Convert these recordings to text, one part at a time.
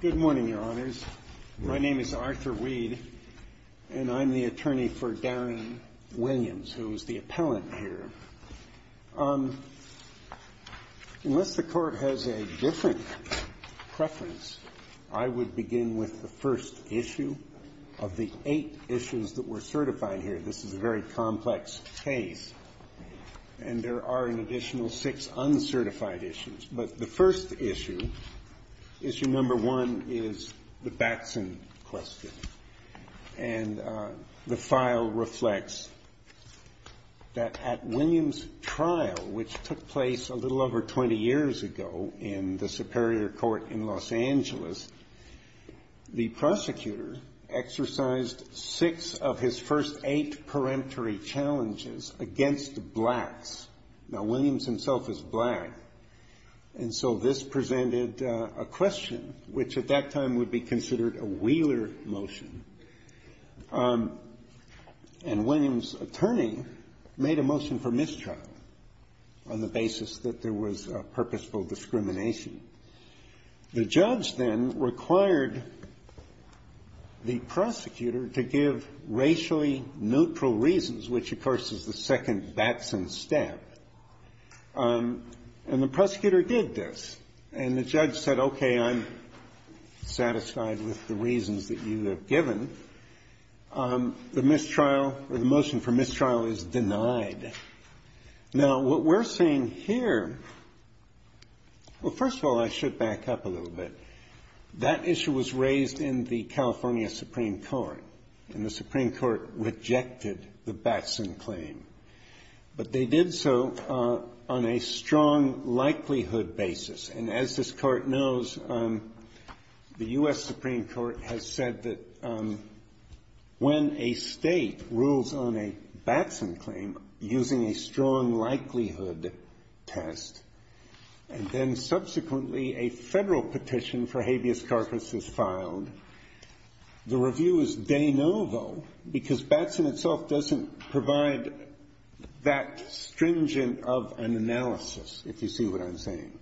Good morning, Your Honors. My name is Arthur Weed, and I'm the attorney for Darren Williams, who is the appellant here. Unless the Court has a different preference, I would begin with the first issue of the eight issues that were certified here. This is a very complex case, and there are an additional six uncertified issues. But the first issue, issue number one, is the Batson question. And the file reflects that at Williams' trial, which took place a little over 20 years ago in the Superior Court in Los Angeles, the prosecutor exercised six of his first eight peremptory challenges against blacks. Now, Williams himself is black, and so this presented a question, which at that time would be considered a Wheeler motion. And Williams' attorney made a motion for mistrial on the basis that there was purposeful discrimination. The judge then required the prosecutor to give racially neutral reasons, which, of course, is the second Batson step. And the prosecutor did this. And the judge said, okay, I'm satisfied with the reasons that you have given. The mistrial or the motion for mistrial is denied. Now, what we're seeing here Well, first of all, I should back up a little bit. That issue was raised in the California Supreme Court, and the Supreme Court rejected the Batson claim. But they did so on a strong likelihood basis. And as this Court knows, the U.S. Supreme Court has said that when a state rules on a Batson claim using a strong likelihood test, and then subsequently a federal petition for habeas corpus is filed, the review is de novo, because Batson itself doesn't provide that stringent of an analysis, if you see what I'm saying.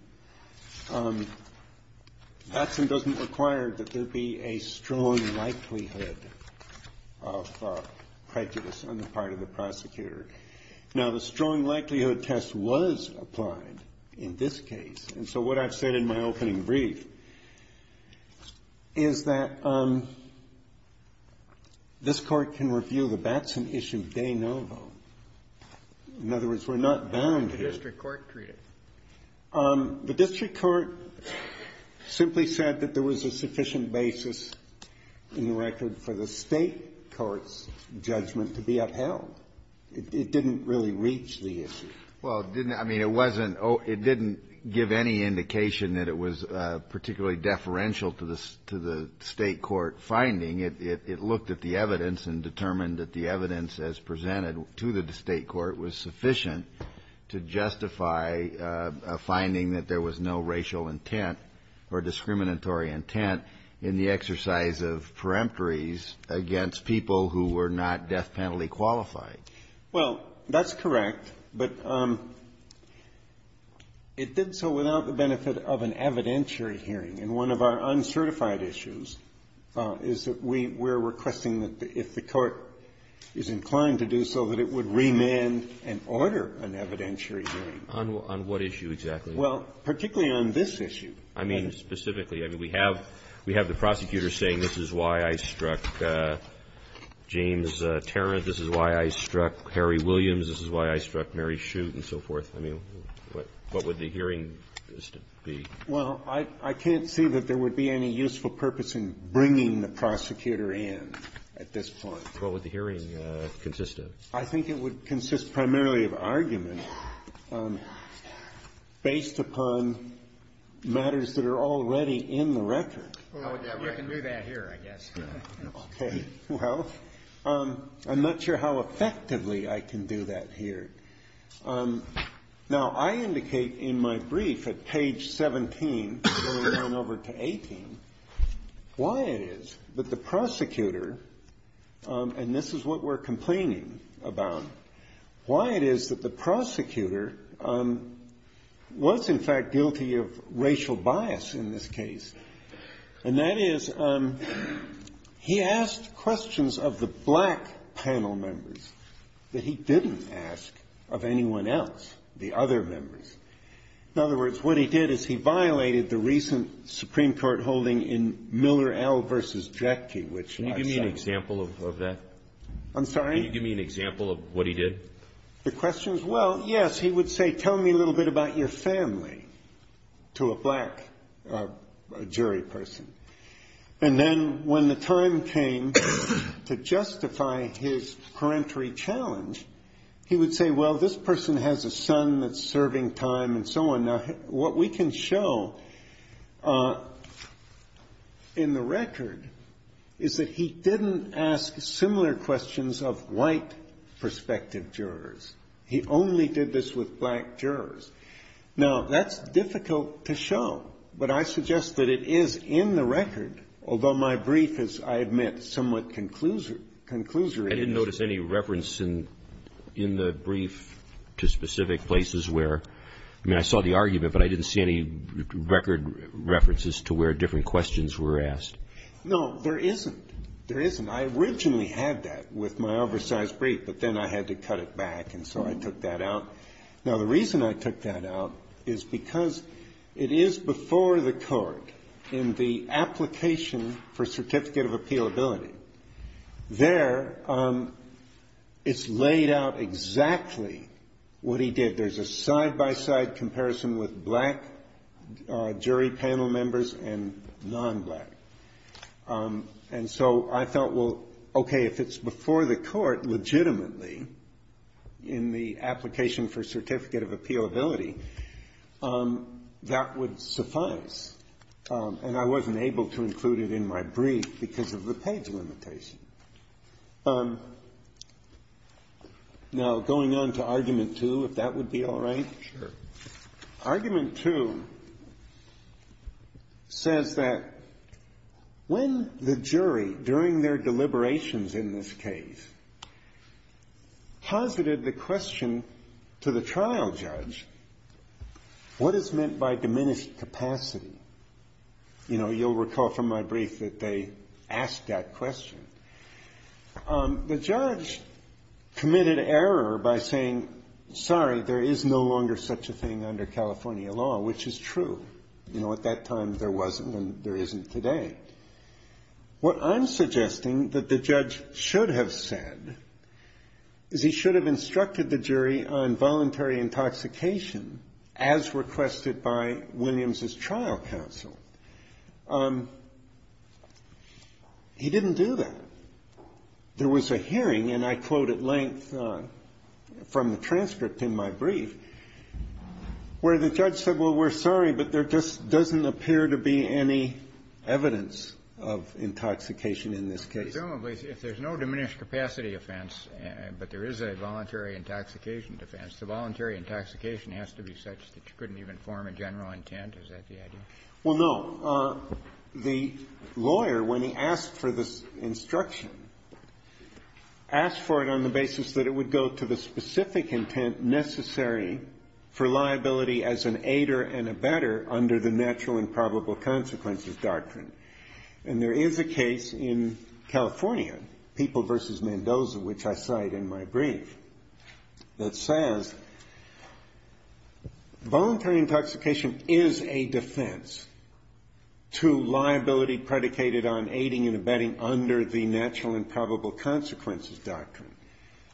Batson doesn't require that there be a strong likelihood of prejudice on the part of the prosecutor. Now, the strong likelihood test was applied in this case. And so what I've said in my opening brief is that this Court can review the Batson issue de novo. In other words, we're not bound here. How did the district court treat it? The district court simply said that there was a sufficient basis in the record for the State court's judgment to be upheld. It didn't really reach the issue. Well, it didn't – I mean, it wasn't – it didn't give any indication that it was particularly deferential to the State court finding. It looked at the evidence and determined that the evidence as presented to the State court was sufficient to justify a finding that there was no racial intent or discriminatory intent in the exercise of peremptories against people who were not death penalty qualified. Well, that's correct. But it did so without the benefit of an evidentiary hearing. And one of our uncertified issues is that we're requesting that if the Court is inclined to do so, that it would remand and order an evidentiary hearing. On what issue exactly? Well, particularly on this issue. I mean, specifically. I mean, we have the prosecutor saying this is why I struck James Tarrant, this is why I struck Harry Williams, this is why I struck Mary Shute and so forth. I mean, what would the hearing be? Well, I can't see that there would be any useful purpose in bringing the prosecutor in at this point. What would the hearing consist of? I think it would consist primarily of argument based upon matters that are already in the record. You can do that here, I guess. Okay. Well, I'm not sure how effectively I can do that here. Now, I indicate in my brief at page 17 going on over to 18 why it is that the prosecutor, and this is what we're complaining about, why it is that the prosecutor was in fact guilty of racial bias in this case. And that is he asked questions of the black panel members that he didn't ask of anyone else, the other members. In other words, what he did is he violated the recent Supreme Court holding in Miller L. versus Jackie, which I cited. Can you give me an example of that? I'm sorry? Can you give me an example of what he did? The questions? Well, yes. He would say, tell me a little bit about your family to a black jury person. And then when the time came to justify his parentry challenge, he would say, well, this person has a son that's serving time and so on. Now, what we can show in the record is that he didn't ask similar questions of white prospective jurors. He only did this with black jurors. Now, that's difficult to show, but I suggest that it is in the record, although my brief is, I admit, somewhat conclusory. I didn't notice any reference in the brief to specific places where, I mean, I saw the argument, but I didn't see any record references to where different questions were asked. No, there isn't. There isn't. I originally had that with my oversized brief, but then I had to cut it back, and so I took that out. Now, the reason I took that out is because it is before the Court in the application for certificate of appealability. There, it's laid out exactly what he did. There's a side-by-side comparison with black jury panel members and non-black. And so I thought, well, okay, if it's before the Court legitimately in the application for certificate of appealability, that would suffice. And I wasn't able to include it in my brief because of the page limitation. Now, going on to Argument 2, if that would be all right. Argument 2 says that when the jury, during their deliberations in this case, posited the question to the trial judge, what is meant by diminished capacity? You know, you'll recall from my brief that they asked that question. The judge committed error by saying, sorry, there is no longer such a thing under California law, which is true. You know, at that time, there wasn't, and there isn't today. What I'm suggesting that the judge should have said is he should have instructed the jury on voluntary intoxication as requested by Williams' trial counsel. He didn't do that. There was a hearing, and I quote at length from the transcript in my brief, where the judge said, well, we're sorry, but there just doesn't appear to be any evidence of intoxication in this case. Presumably, if there's no diminished capacity offense, but there is a voluntary intoxication defense, the voluntary intoxication has to be such that you couldn't even form a general intent. Is that the idea? Well, no. The lawyer, when he asked for this instruction, asked for it on the basis that it would go to the specific intent necessary for liability as an aider and abetter under the natural and probable consequences doctrine. And there is a case in California, People v. Mendoza, which I cite in my brief, that says, voluntary intoxication is a defense to liability predicated on aiding and abetting under the natural and probable consequences doctrine.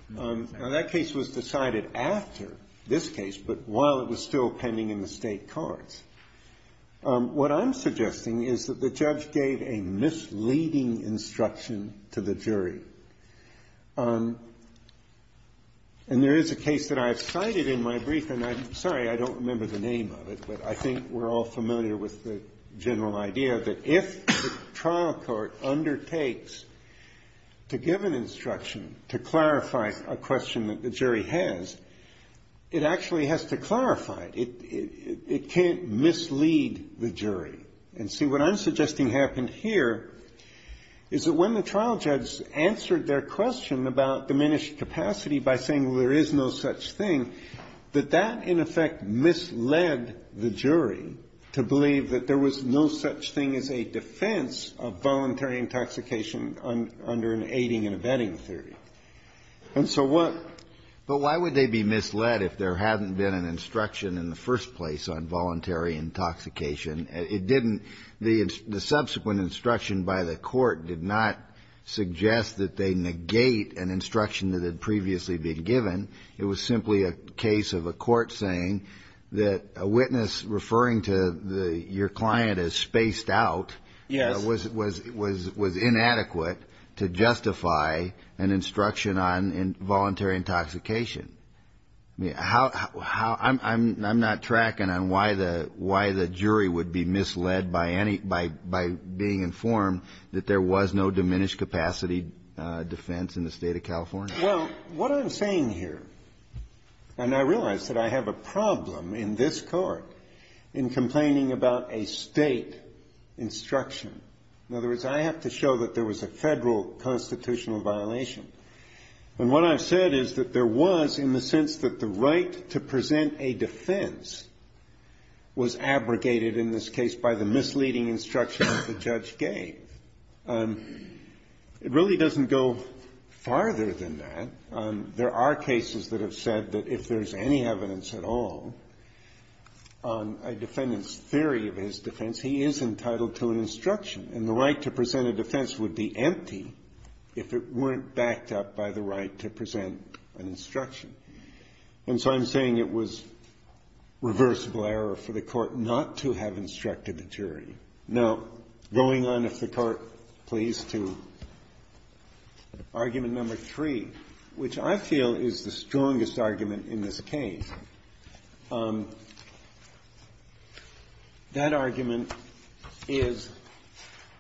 Now, that case was decided after this case, but while it was still pending in the state courts. What I'm suggesting is that the judge gave a misleading instruction to the jury. And there is a case that I've cited in my brief, and I'm sorry, I don't remember the name of it, but I think we're all familiar with the general idea that if the trial court undertakes to give an instruction to clarify a question that the jury has, it actually has to clarify it. It can't mislead the jury. And see, what I'm suggesting happened here is that when the trial judge answered their question about diminished capacity by saying, well, there is no such thing, that that, in effect, misled the jury to believe that there was no such thing as a defense of voluntary intoxication under an aiding and abetting theory. And so what? But why would they be misled if there hadn't been an instruction in the first place on voluntary intoxication? It didn't, the subsequent instruction by the court did not suggest that they negate an instruction that had previously been given. It was simply a case of a court saying that a witness referring to your client as spaced out was inadequate to justify an instruction on involuntary intoxication. I'm not tracking on why the jury would be misled by being informed that there was no diminished capacity defense in the state of California. Well, what I'm saying here, and I realize that I have a problem in this court in complaining about a state instruction. In other words, I have to show that there was a federal constitutional violation. And what I've said is that there was, in the sense that the right to present a defense was abrogated in this case by the misleading instruction that the judge gave. It really doesn't go farther than that. There are cases that have said that if there's any evidence at all on a defendant's theory of his defense, he is entitled to an instruction. And the right to present a defense would be empty if it weren't backed up by the right to present an instruction. And so I'm saying it was reversible error for the court not to have instructed the jury. Now, going on, if the court please, to argument number three, which I feel is the strongest argument in this case, that argument is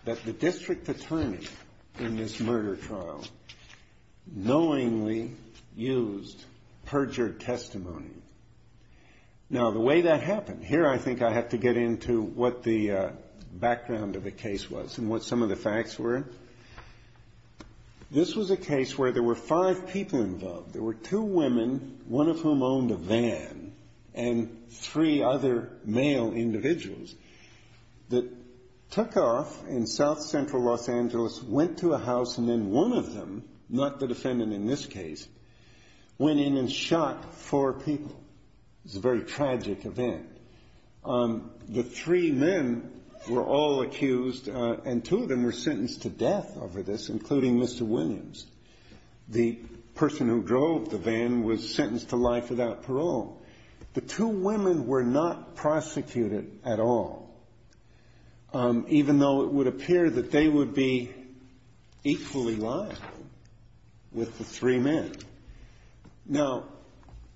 that the district attorney in this murder trial knowingly used perjured testimony. Now, the way that happened, here I think I have to get into what the background of the case was and what some of the facts were. This was a case where there were five people involved. There were two women, one of whom owned a van, and three other male individuals that took off in South Central Los Angeles, went to a house, and then one of them, not the defendant in this case, went in and shot four people. It was a very tragic event. The three men were all accused, and two of them were sentenced to death over this, including Mr. Williams. The person who drove the van was sentenced to life without parole. The two women were not prosecuted at all, even though it would appear that they would be equally liable with the three men. Now,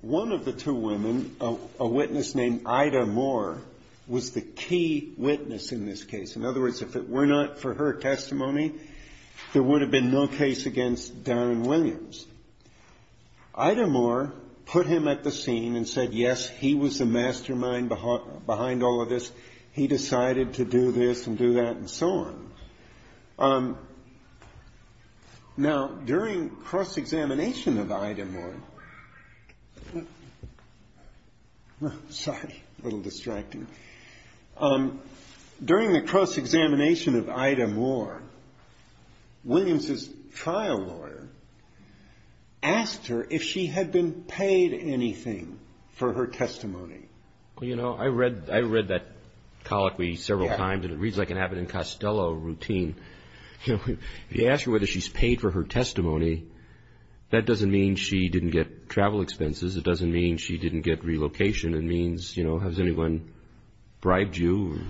one of the two women, a witness named Ida Moore, was the key witness in this case. In other words, if it were not for her testimony, there would have been no case against Darren Williams. Ida Moore put him at the scene and said, yes, he was the mastermind behind all of this. He decided to do this and do that, and so on. Now, during cross-examination of Ida Moore, sorry, a little distracting. During the cross-examination of Ida Moore, Williams's trial lawyer asked her if she had been paid anything for her testimony. You know, I read that colloquy several times, and it reads like an Abbott and Costello routine. If you ask her whether she's paid for her testimony, that doesn't mean she didn't get travel expenses. It doesn't mean she didn't get relocation. It means, you know, has anyone bribed you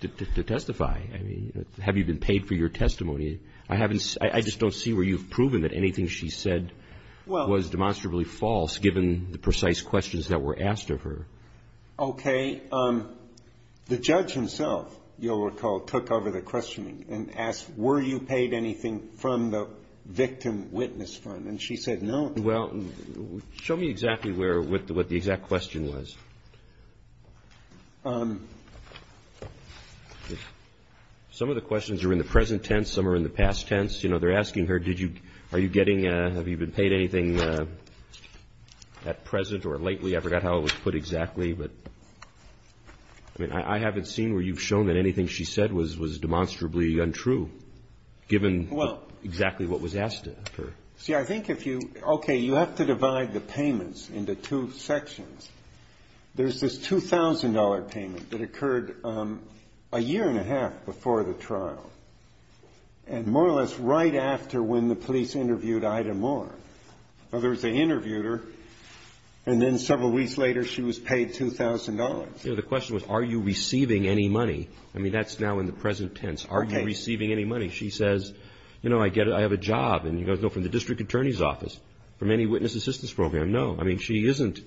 to testify? I mean, have you been paid for your testimony? I just don't see where you've proven that anything she said was demonstrably false, given the precise questions that were asked of her. Okay. The judge himself, you'll recall, took over the questioning and asked, were you paid anything from the victim witness fund? And she said no. Well, show me exactly where, what the exact question was. Some of the questions are in the present tense. Some are in the past tense. You know, they're asking her, did you, are you getting, have you been paid anything at present or lately? I forgot how it was put exactly, but I mean, I haven't seen where you've shown that anything she said was demonstrably untrue, given exactly what was asked of her. See, I think if you, okay, you have to divide the payments into two sections. There's this $2,000 payment that occurred a year and a half before the trial, and more or less right after when the police interviewed Ida Moore. In other words, they interviewed her, and then several weeks later, she was paid $2,000. The question was, are you receiving any money? I mean, that's now in the present tense. Are you receiving any money? She says, you know, I get it. I have a job. And you guys know from the district attorney's office, from any witness assistance program. No, I mean, she isn't,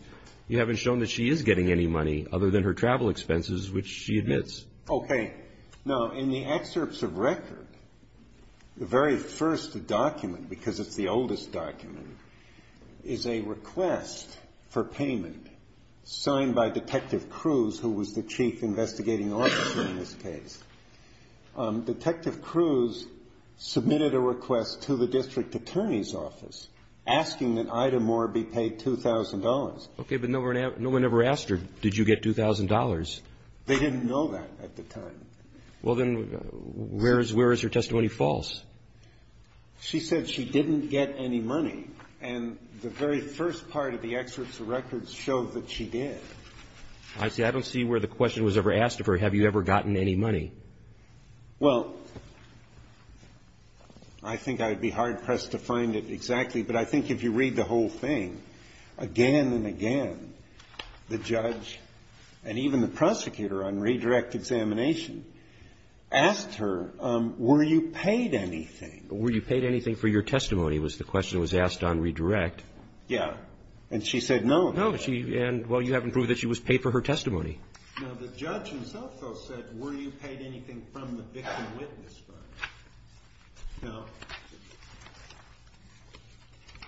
you haven't shown that she is getting any money other than her travel expenses, which she admits. Okay. Now, in the excerpts of record, the very first document, because it's the oldest document, is a request for payment signed by Detective Cruz, who was the chief investigating officer in this case. Detective Cruz submitted a request to the district attorney's office asking that Ida Moore be paid $2,000. Okay, but no one ever asked her, did you get $2,000? They didn't know that at the time. Well, then, where is her testimony false? She said she didn't get any money, and the very first part of the excerpts of records show that she did. Honestly, I don't see where the question was ever asked of her, have you ever gotten any money? Well, I think I'd be hard-pressed to find it exactly, but I think if you read the whole thing again and again, the judge and even the prosecutor on redirect examination asked her, were you paid anything? Were you paid anything for your testimony, was the question that was asked on redirect. Yeah. And she said no. No, and well, you haven't proved that she was paid for her testimony. Now, the judge himself, though, said, were you paid anything from the victim witness fund? No.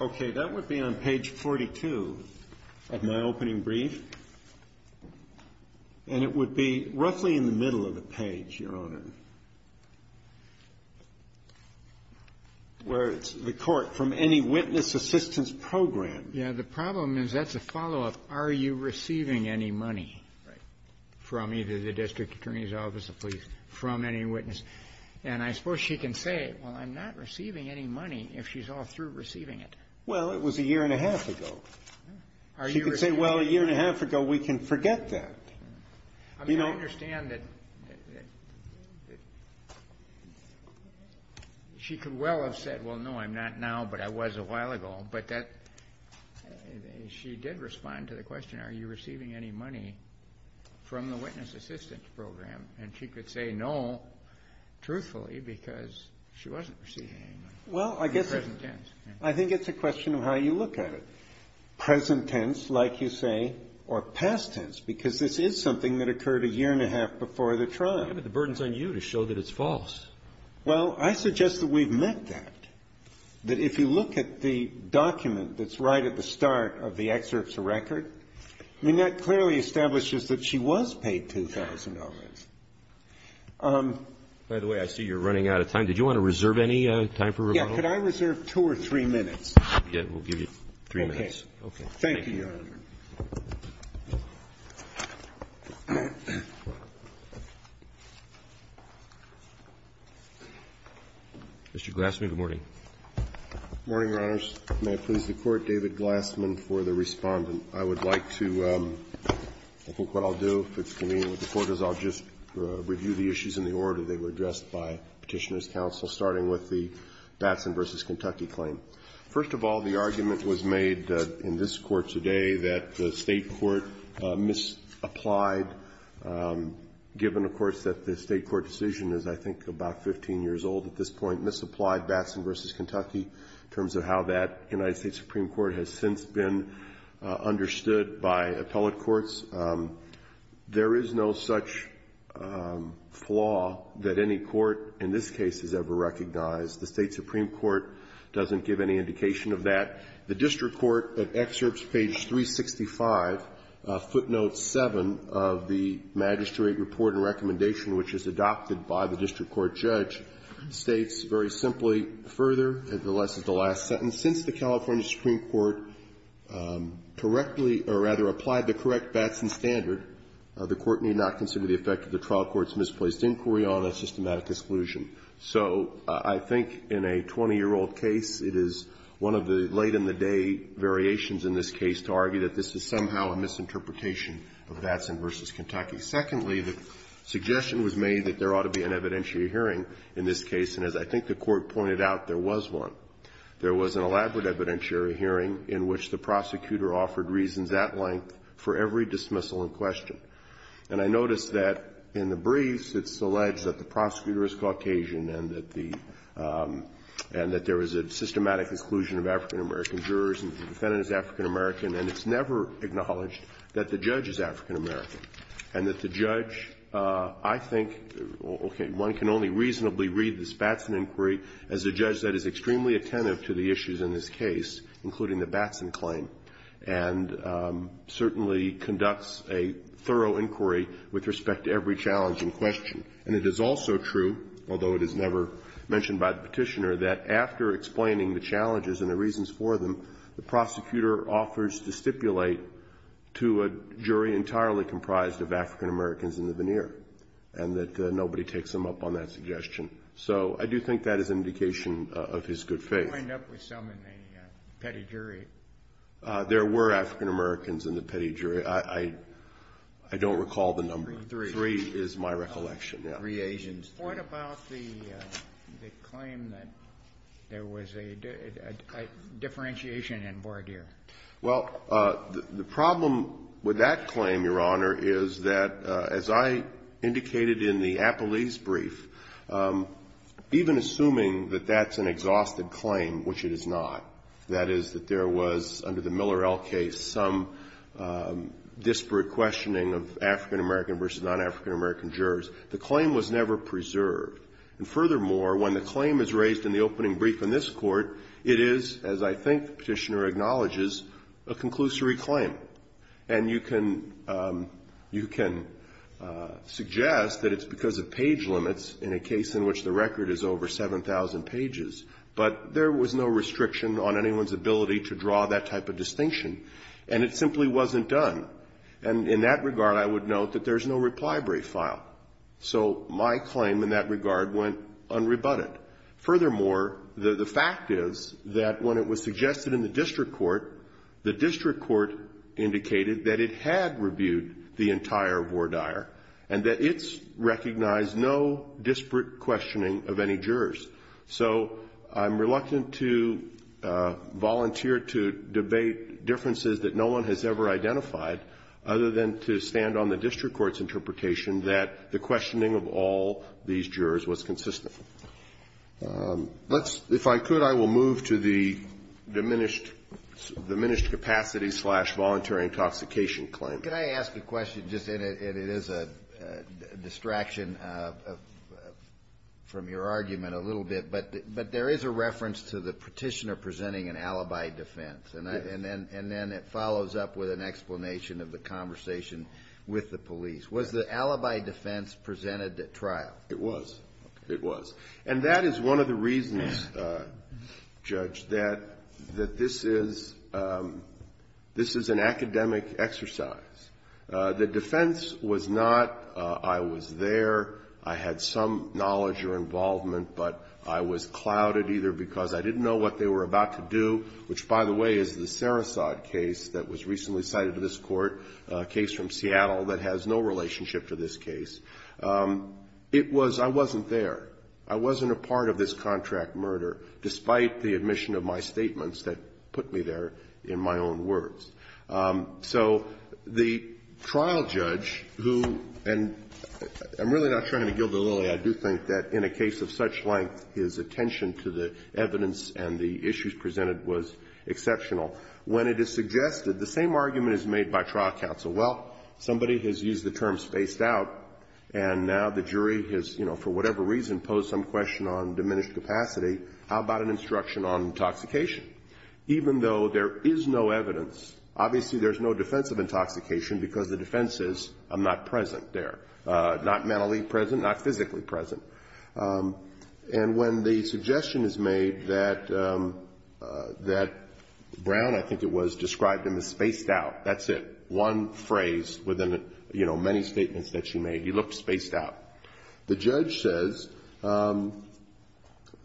Okay, that would be on page 42 of my opening brief, and it would be roughly in the middle of the page, Your Honor, where it's the court, from any witness assistance program. Yeah, the problem is that's a follow-up, are you receiving any money from either the district attorney's office or police from any witness? And I suppose she can say, well, I'm not receiving any money if she's all through receiving it. Well, it was a year and a half ago. She could say, well, a year and a half ago, we can forget that. I mean, I understand that she could well have said, well, no, I'm not now, but I was a question, are you receiving any money from the witness assistance program? And she could say, no, truthfully, because she wasn't receiving any money. Well, I guess, I think it's a question of how you look at it. Present tense, like you say, or past tense, because this is something that occurred a year and a half before the trial. Yeah, but the burden's on you to show that it's false. Well, I suggest that we've met that, that if you look at the document that's right at the start of the excerpt to record, I mean, that clearly establishes that she was paid $2,000. By the way, I see you're running out of time. Did you want to reserve any time for rebuttal? Yeah. Could I reserve two or three minutes? Yeah. We'll give you three minutes. Okay. Thank you, Your Honor. Mr. Glassman, good morning. Good morning, Your Honors. May I please the Court? David Glassman for the Respondent. I would like to, I think what I'll do, if it's convenient with the Court, is I'll just review the issues in the order they were addressed by Petitioner's counsel, starting with the Batson v. Kentucky claim. First of all, the argument was made in this Court today that the State court misapplied, given, of course, that the State court decision is, I think, about 15 years old at this point, misapplied Batson v. Kentucky in terms of how that United States Supreme Court has since been understood by appellate courts. There is no such flaw that any court in this case has ever recognized. The State Supreme Court doesn't give any indication of that. The District Court, at excerpts page 365, footnote 7 of the Magistrate Report and District Court Judge, states very simply, further, as the last sentence, since the California Supreme Court correctly, or rather, applied the correct Batson standard, the Court need not consider the effect of the trial court's misplaced inquiry on a systematic exclusion. So I think in a 20-year-old case, it is one of the late-in-the-day variations in this case to argue that this is somehow a misinterpretation of Batson v. Kentucky. Secondly, the suggestion was made that there ought to be an evidentiary hearing in this case, and as I think the Court pointed out, there was one. There was an elaborate evidentiary hearing in which the prosecutor offered reasons at length for every dismissal in question. And I noticed that in the briefs it's alleged that the prosecutor is Caucasian and that the – and that there was a systematic exclusion of African-American jurors and the defendant is African-American, and it's never acknowledged that the judge is African-American, and that the judge – I think, okay, one can only reasonably read this Batson inquiry as a judge that is extremely attentive to the issues in this case, including the Batson claim, and certainly conducts a thorough inquiry with respect to every challenge in question. And it is also true, although it is never mentioned by the Petitioner, that after explaining the challenges and the reasons for them, the prosecutor offers to stipulate to a jury entirely comprised of African-Americans in the veneer, and that nobody takes him up on that suggestion. So I do think that is an indication of his good faith. You wind up with some in the petty jury. There were African-Americans in the petty jury. I don't recall the number. Three. Three is my recollection, yeah. Three Asians. What about the claim that there was a differentiation in voir dire? Well, the problem with that claim, Your Honor, is that, as I indicated in the Appelese brief, even assuming that that's an exhausted claim, which it is not, that is, that there was, under the Miller-El case, some disparate questioning of African-American versus non-African-American jurors, the claim was never preserved. And furthermore, when the claim is raised in the opening brief in this Court, it is, as I think the Petitioner acknowledges, a conclusory claim. And you can suggest that it's because of page limits in a case in which the record is over 7,000 pages, but there was no restriction on anyone's ability to draw that type of distinction, and it simply wasn't done. And in that regard, I would note that there's no reply brief file. So my claim in that regard went unrebutted. Furthermore, the fact is that when it was suggested in the district court, the district court indicated that it had rebuked the entire voir dire, and that it's recognized no disparate questioning of any jurors. So I'm reluctant to volunteer to debate differences that no one has ever identified, other than to stand on the district court's interpretation that the questioning of all these jurors was consistent. Let's, if I could, I will move to the diminished capacity slash voluntary intoxication claim. Can I ask a question just, and it is a distraction from your argument a little bit, but there is a reference to the Petitioner presenting an alibi defense, and then it follows up with an explanation of the conversation with the police. Was the alibi defense presented at trial? It was. It was. And that is one of the reasons, Judge, that this is an academic exercise. The defense was not, I was there, I had some knowledge or involvement, but I was clouded either because I didn't know what they were about to do, which by the way is the Sarasot case that was recently cited to this court, a case from Seattle that has no relationship to this case. It was, I wasn't there. I wasn't a part of this contract murder, despite the admission of my statements that put me there in my own words. So the trial judge, who, and I'm really not trying to gild the lily. I do think that in a case of such length, his attention to the evidence and the issues presented was exceptional. When it is suggested, the same argument is made by trial counsel. Well, somebody has used the term spaced out, and now the jury has, you know, for whatever reason, posed some question on diminished capacity. How about an instruction on intoxication? Even though there is no evidence, obviously there's no defense of intoxication, because the defense is, I'm not present there. Not mentally present, not physically present. And when the suggestion is made that Brown, I think it was, described him as spaced out, that's it. One phrase within many statements that she made, he looked spaced out. The judge says,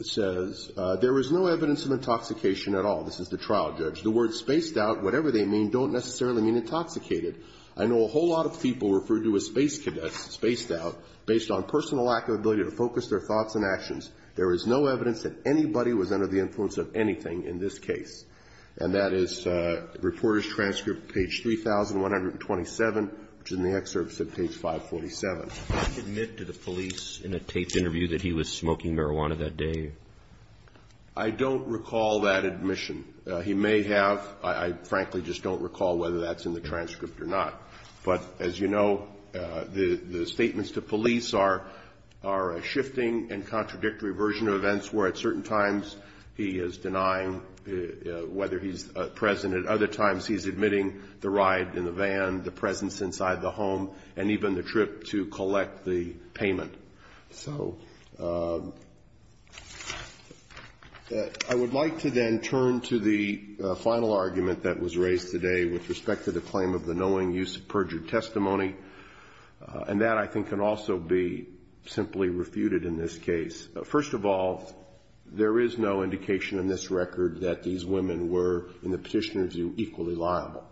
says, there is no evidence of intoxication at all. This is the trial judge. The word spaced out, whatever they mean, don't necessarily mean intoxicated. I know a whole lot of people referred to as space cadets, spaced out, based on personal lack of ability to focus their thoughts and actions. There is no evidence that anybody was under the influence of anything in this case. And that is Reporters' Transcript, page 3127, which is in the excerpts of page 547. Admit to the police in a taped interview that he was smoking marijuana that day. I don't recall that admission. He may have, I frankly just don't recall whether that's in the transcript or not. But as you know, the statements to police are a shifting and contradictory version of events where at certain times he is denying whether he's present, at other times he's admitting the ride in the van, the presence inside the home, and even the trip to collect the payment. So, I would like to then turn to the final argument that was raised today with respect to the claim of the knowing use of perjured testimony. And that, I think, can also be simply refuted in this case. First of all, there is no indication in this record that these women were, in the petitioner's view, equally liable.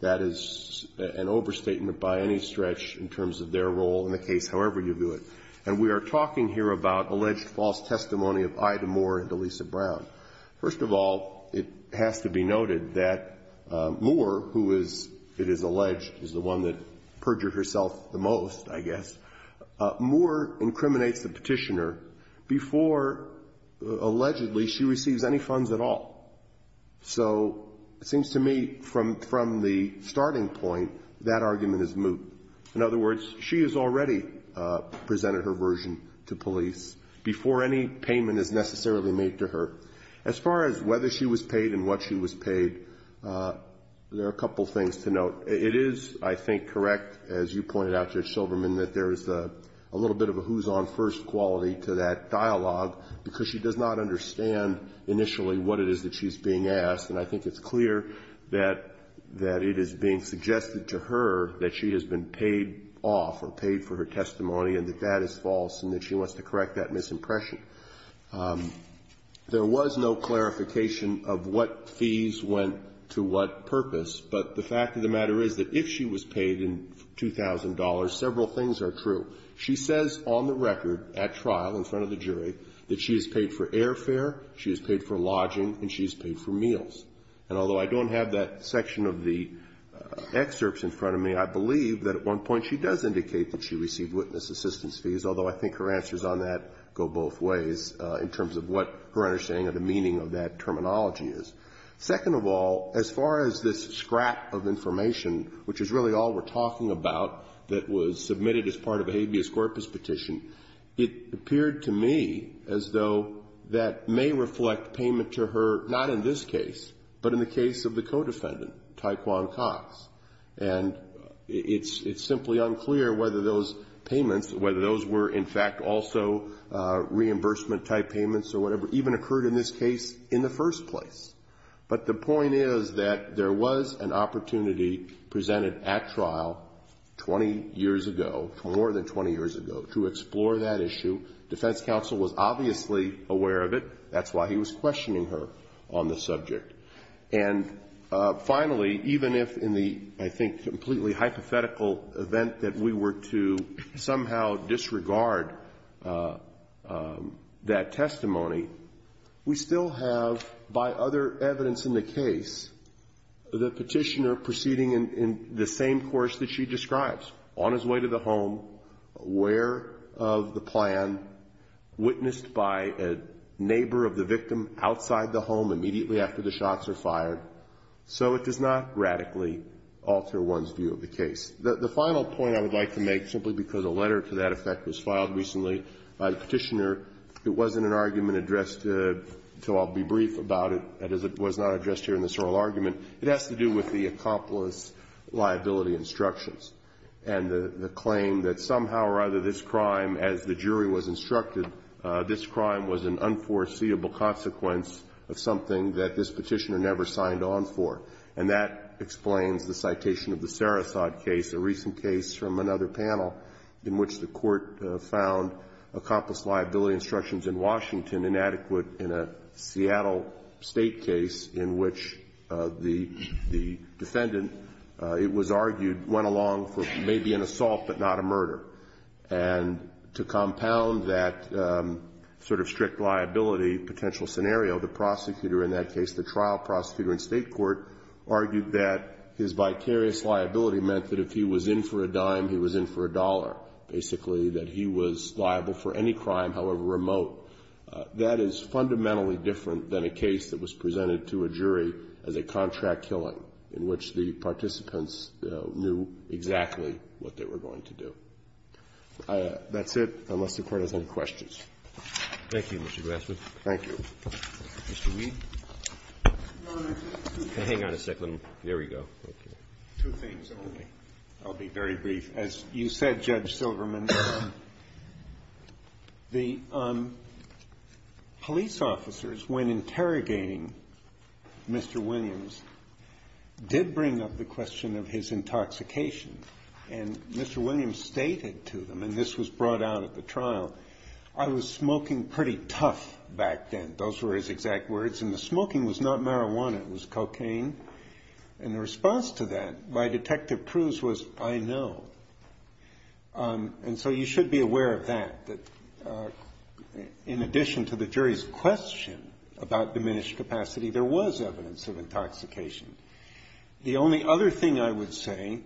That is an overstatement by any stretch in terms of their role in the case, however you do it. And we are talking here about alleged false testimony of Ida Moore and Elisa Brown. First of all, it has to be noted that Moore, who is, it is alleged, is the one that perjured herself the most, I guess. Moore incriminates the petitioner before, allegedly, she receives any funds at all. So, it seems to me, from the starting point, that argument is moot. In other words, she has already presented her version to police before any payment is necessarily made to her. As far as whether she was paid and what she was paid, there are a couple things to note. It is, I think, correct, as you pointed out, Judge Silverman, that there is a little bit of a who's on first quality to that dialogue. Because she does not understand, initially, what it is that she's being asked. And I think it's clear that it is being suggested to her that she has been paid off or paid for her testimony, and that that is false, and that she wants to correct that misimpression. There was no clarification of what fees went to what purpose. But the fact of the matter is that if she was paid in $2,000, several things are true. She says, on the record, at trial, in front of the jury, that she is paid for airfare, she is paid for lodging, and she is paid for meals. And although I don't have that section of the excerpts in front of me, I believe that at one point she does indicate that she received witness assistance fees. Although I think her answers on that go both ways, in terms of what her understanding of the meaning of that terminology is. Second of all, as far as this scrap of information, which is really all we're talking about, that was submitted as part of a habeas corpus petition. It appeared to me as though that may reflect payment to her, not in this case, but in the case of the co-defendant, Tyquan Cox. And it's simply unclear whether those payments, whether those were in fact also reimbursement type payments or whatever, even occurred in this case in the first place. But the point is that there was an opportunity presented at trial 20 years ago, more than 20 years ago, to explore that issue. Defense counsel was obviously aware of it. That's why he was questioning her on the subject. And finally, even if in the, I think, completely hypothetical event that we were to somehow disregard that testimony, we still have, by other evidence in the case, the petitioner proceeding in the same course that she describes. On his way to the home, aware of the plan, witnessed by a neighbor of the victim outside the home immediately after the shots are fired, so it does not radically alter one's view of the case. The final point I would like to make, simply because a letter to that effect was addressed, so I'll be brief about it, as it was not addressed here in this oral argument. It has to do with the accomplice liability instructions. And the claim that somehow or other this crime, as the jury was instructed, this crime was an unforeseeable consequence of something that this petitioner never signed on for. And that explains the citation of the Sarasot case, a recent case from another panel in which the court found accomplice liability instructions in Washington inadequate in a Seattle State case in which the defendant, it was argued, went along for maybe an assault but not a murder. And to compound that sort of strict liability potential scenario, the prosecutor in that case, the trial prosecutor in State court, argued that his vicarious liability meant that if he was in for a dime, he was in for a dollar. Basically, that he was liable for any crime, however remote. That is fundamentally different than a case that was presented to a jury as a contract killing in which the participants knew exactly what they were going to do. That's it, unless the Court has any questions. Roberts. Thank you, Mr. Grassley. Thank you. Mr. Weed. Hang on a second. There we go. Two things only. I'll be very brief. As you said, Judge Silverman, the police officers, when interrogating Mr. Williams, did bring up the question of his intoxication. And Mr. Williams stated to them, and this was brought out at the trial, I was smoking pretty tough back then. Those were his exact words. And the smoking was not marijuana. It was cocaine. And the response to that by Detective Cruz was, I know. And so you should be aware of that. That in addition to the jury's question about diminished capacity, there was evidence of intoxication. The only other thing I would say,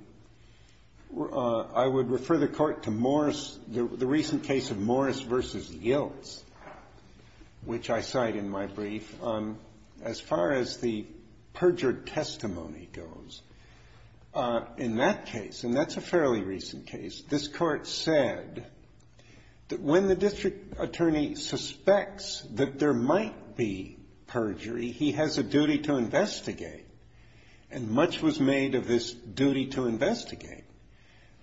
I would refer the Court to Morris, the recent case of Morris v. Yilts, which I cite in my brief, as far as the perjured testimony goes. In that case, and that's a fairly recent case, this Court said that when the district attorney suspects that there might be perjury, he has a duty to investigate. And much was made of this duty to investigate.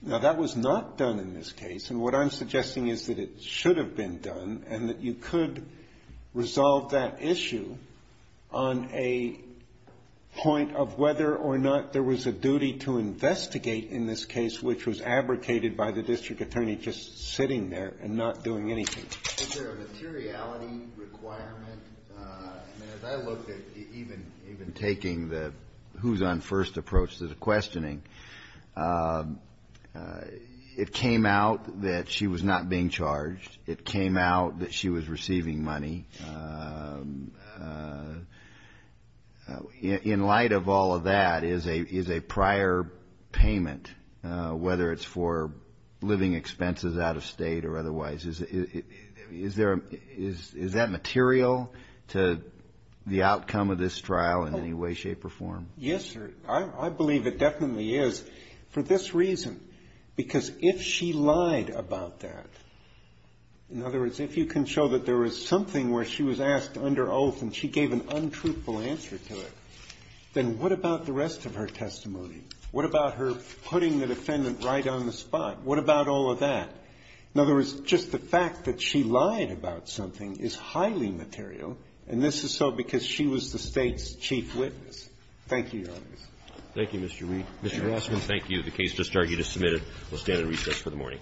Now, that was not done in this case. And what I'm suggesting is that it should have been done and that you could resolve that issue on a point of whether or not there was a duty to investigate in this case which was abrogated by the district attorney just sitting there and not doing anything. Is there a materiality requirement? As I looked at even taking the who's on first approach to the questioning, it came out that she was not being charged. It came out that she was receiving money. In light of all of that, is a prior payment, whether it's for living expenses out of State or otherwise, is that material to the outcome of this trial in any way, shape, or form? Yes, sir. I believe it definitely is for this reason, because if she lied about that, in other words, if you can show that there was something where she was asked under oath and she gave an untruthful answer to it, then what about the rest of her testimony? What about her putting the defendant right on the spot? What about all of that? In other words, just the fact that she lied about something is highly material, and this is so because she was the State's chief witness. Thank you, Your Honor. Thank you, Mr. Reed. Mr. Grassman, thank you. The case just argued is submitted. We'll stand and recess for the morning.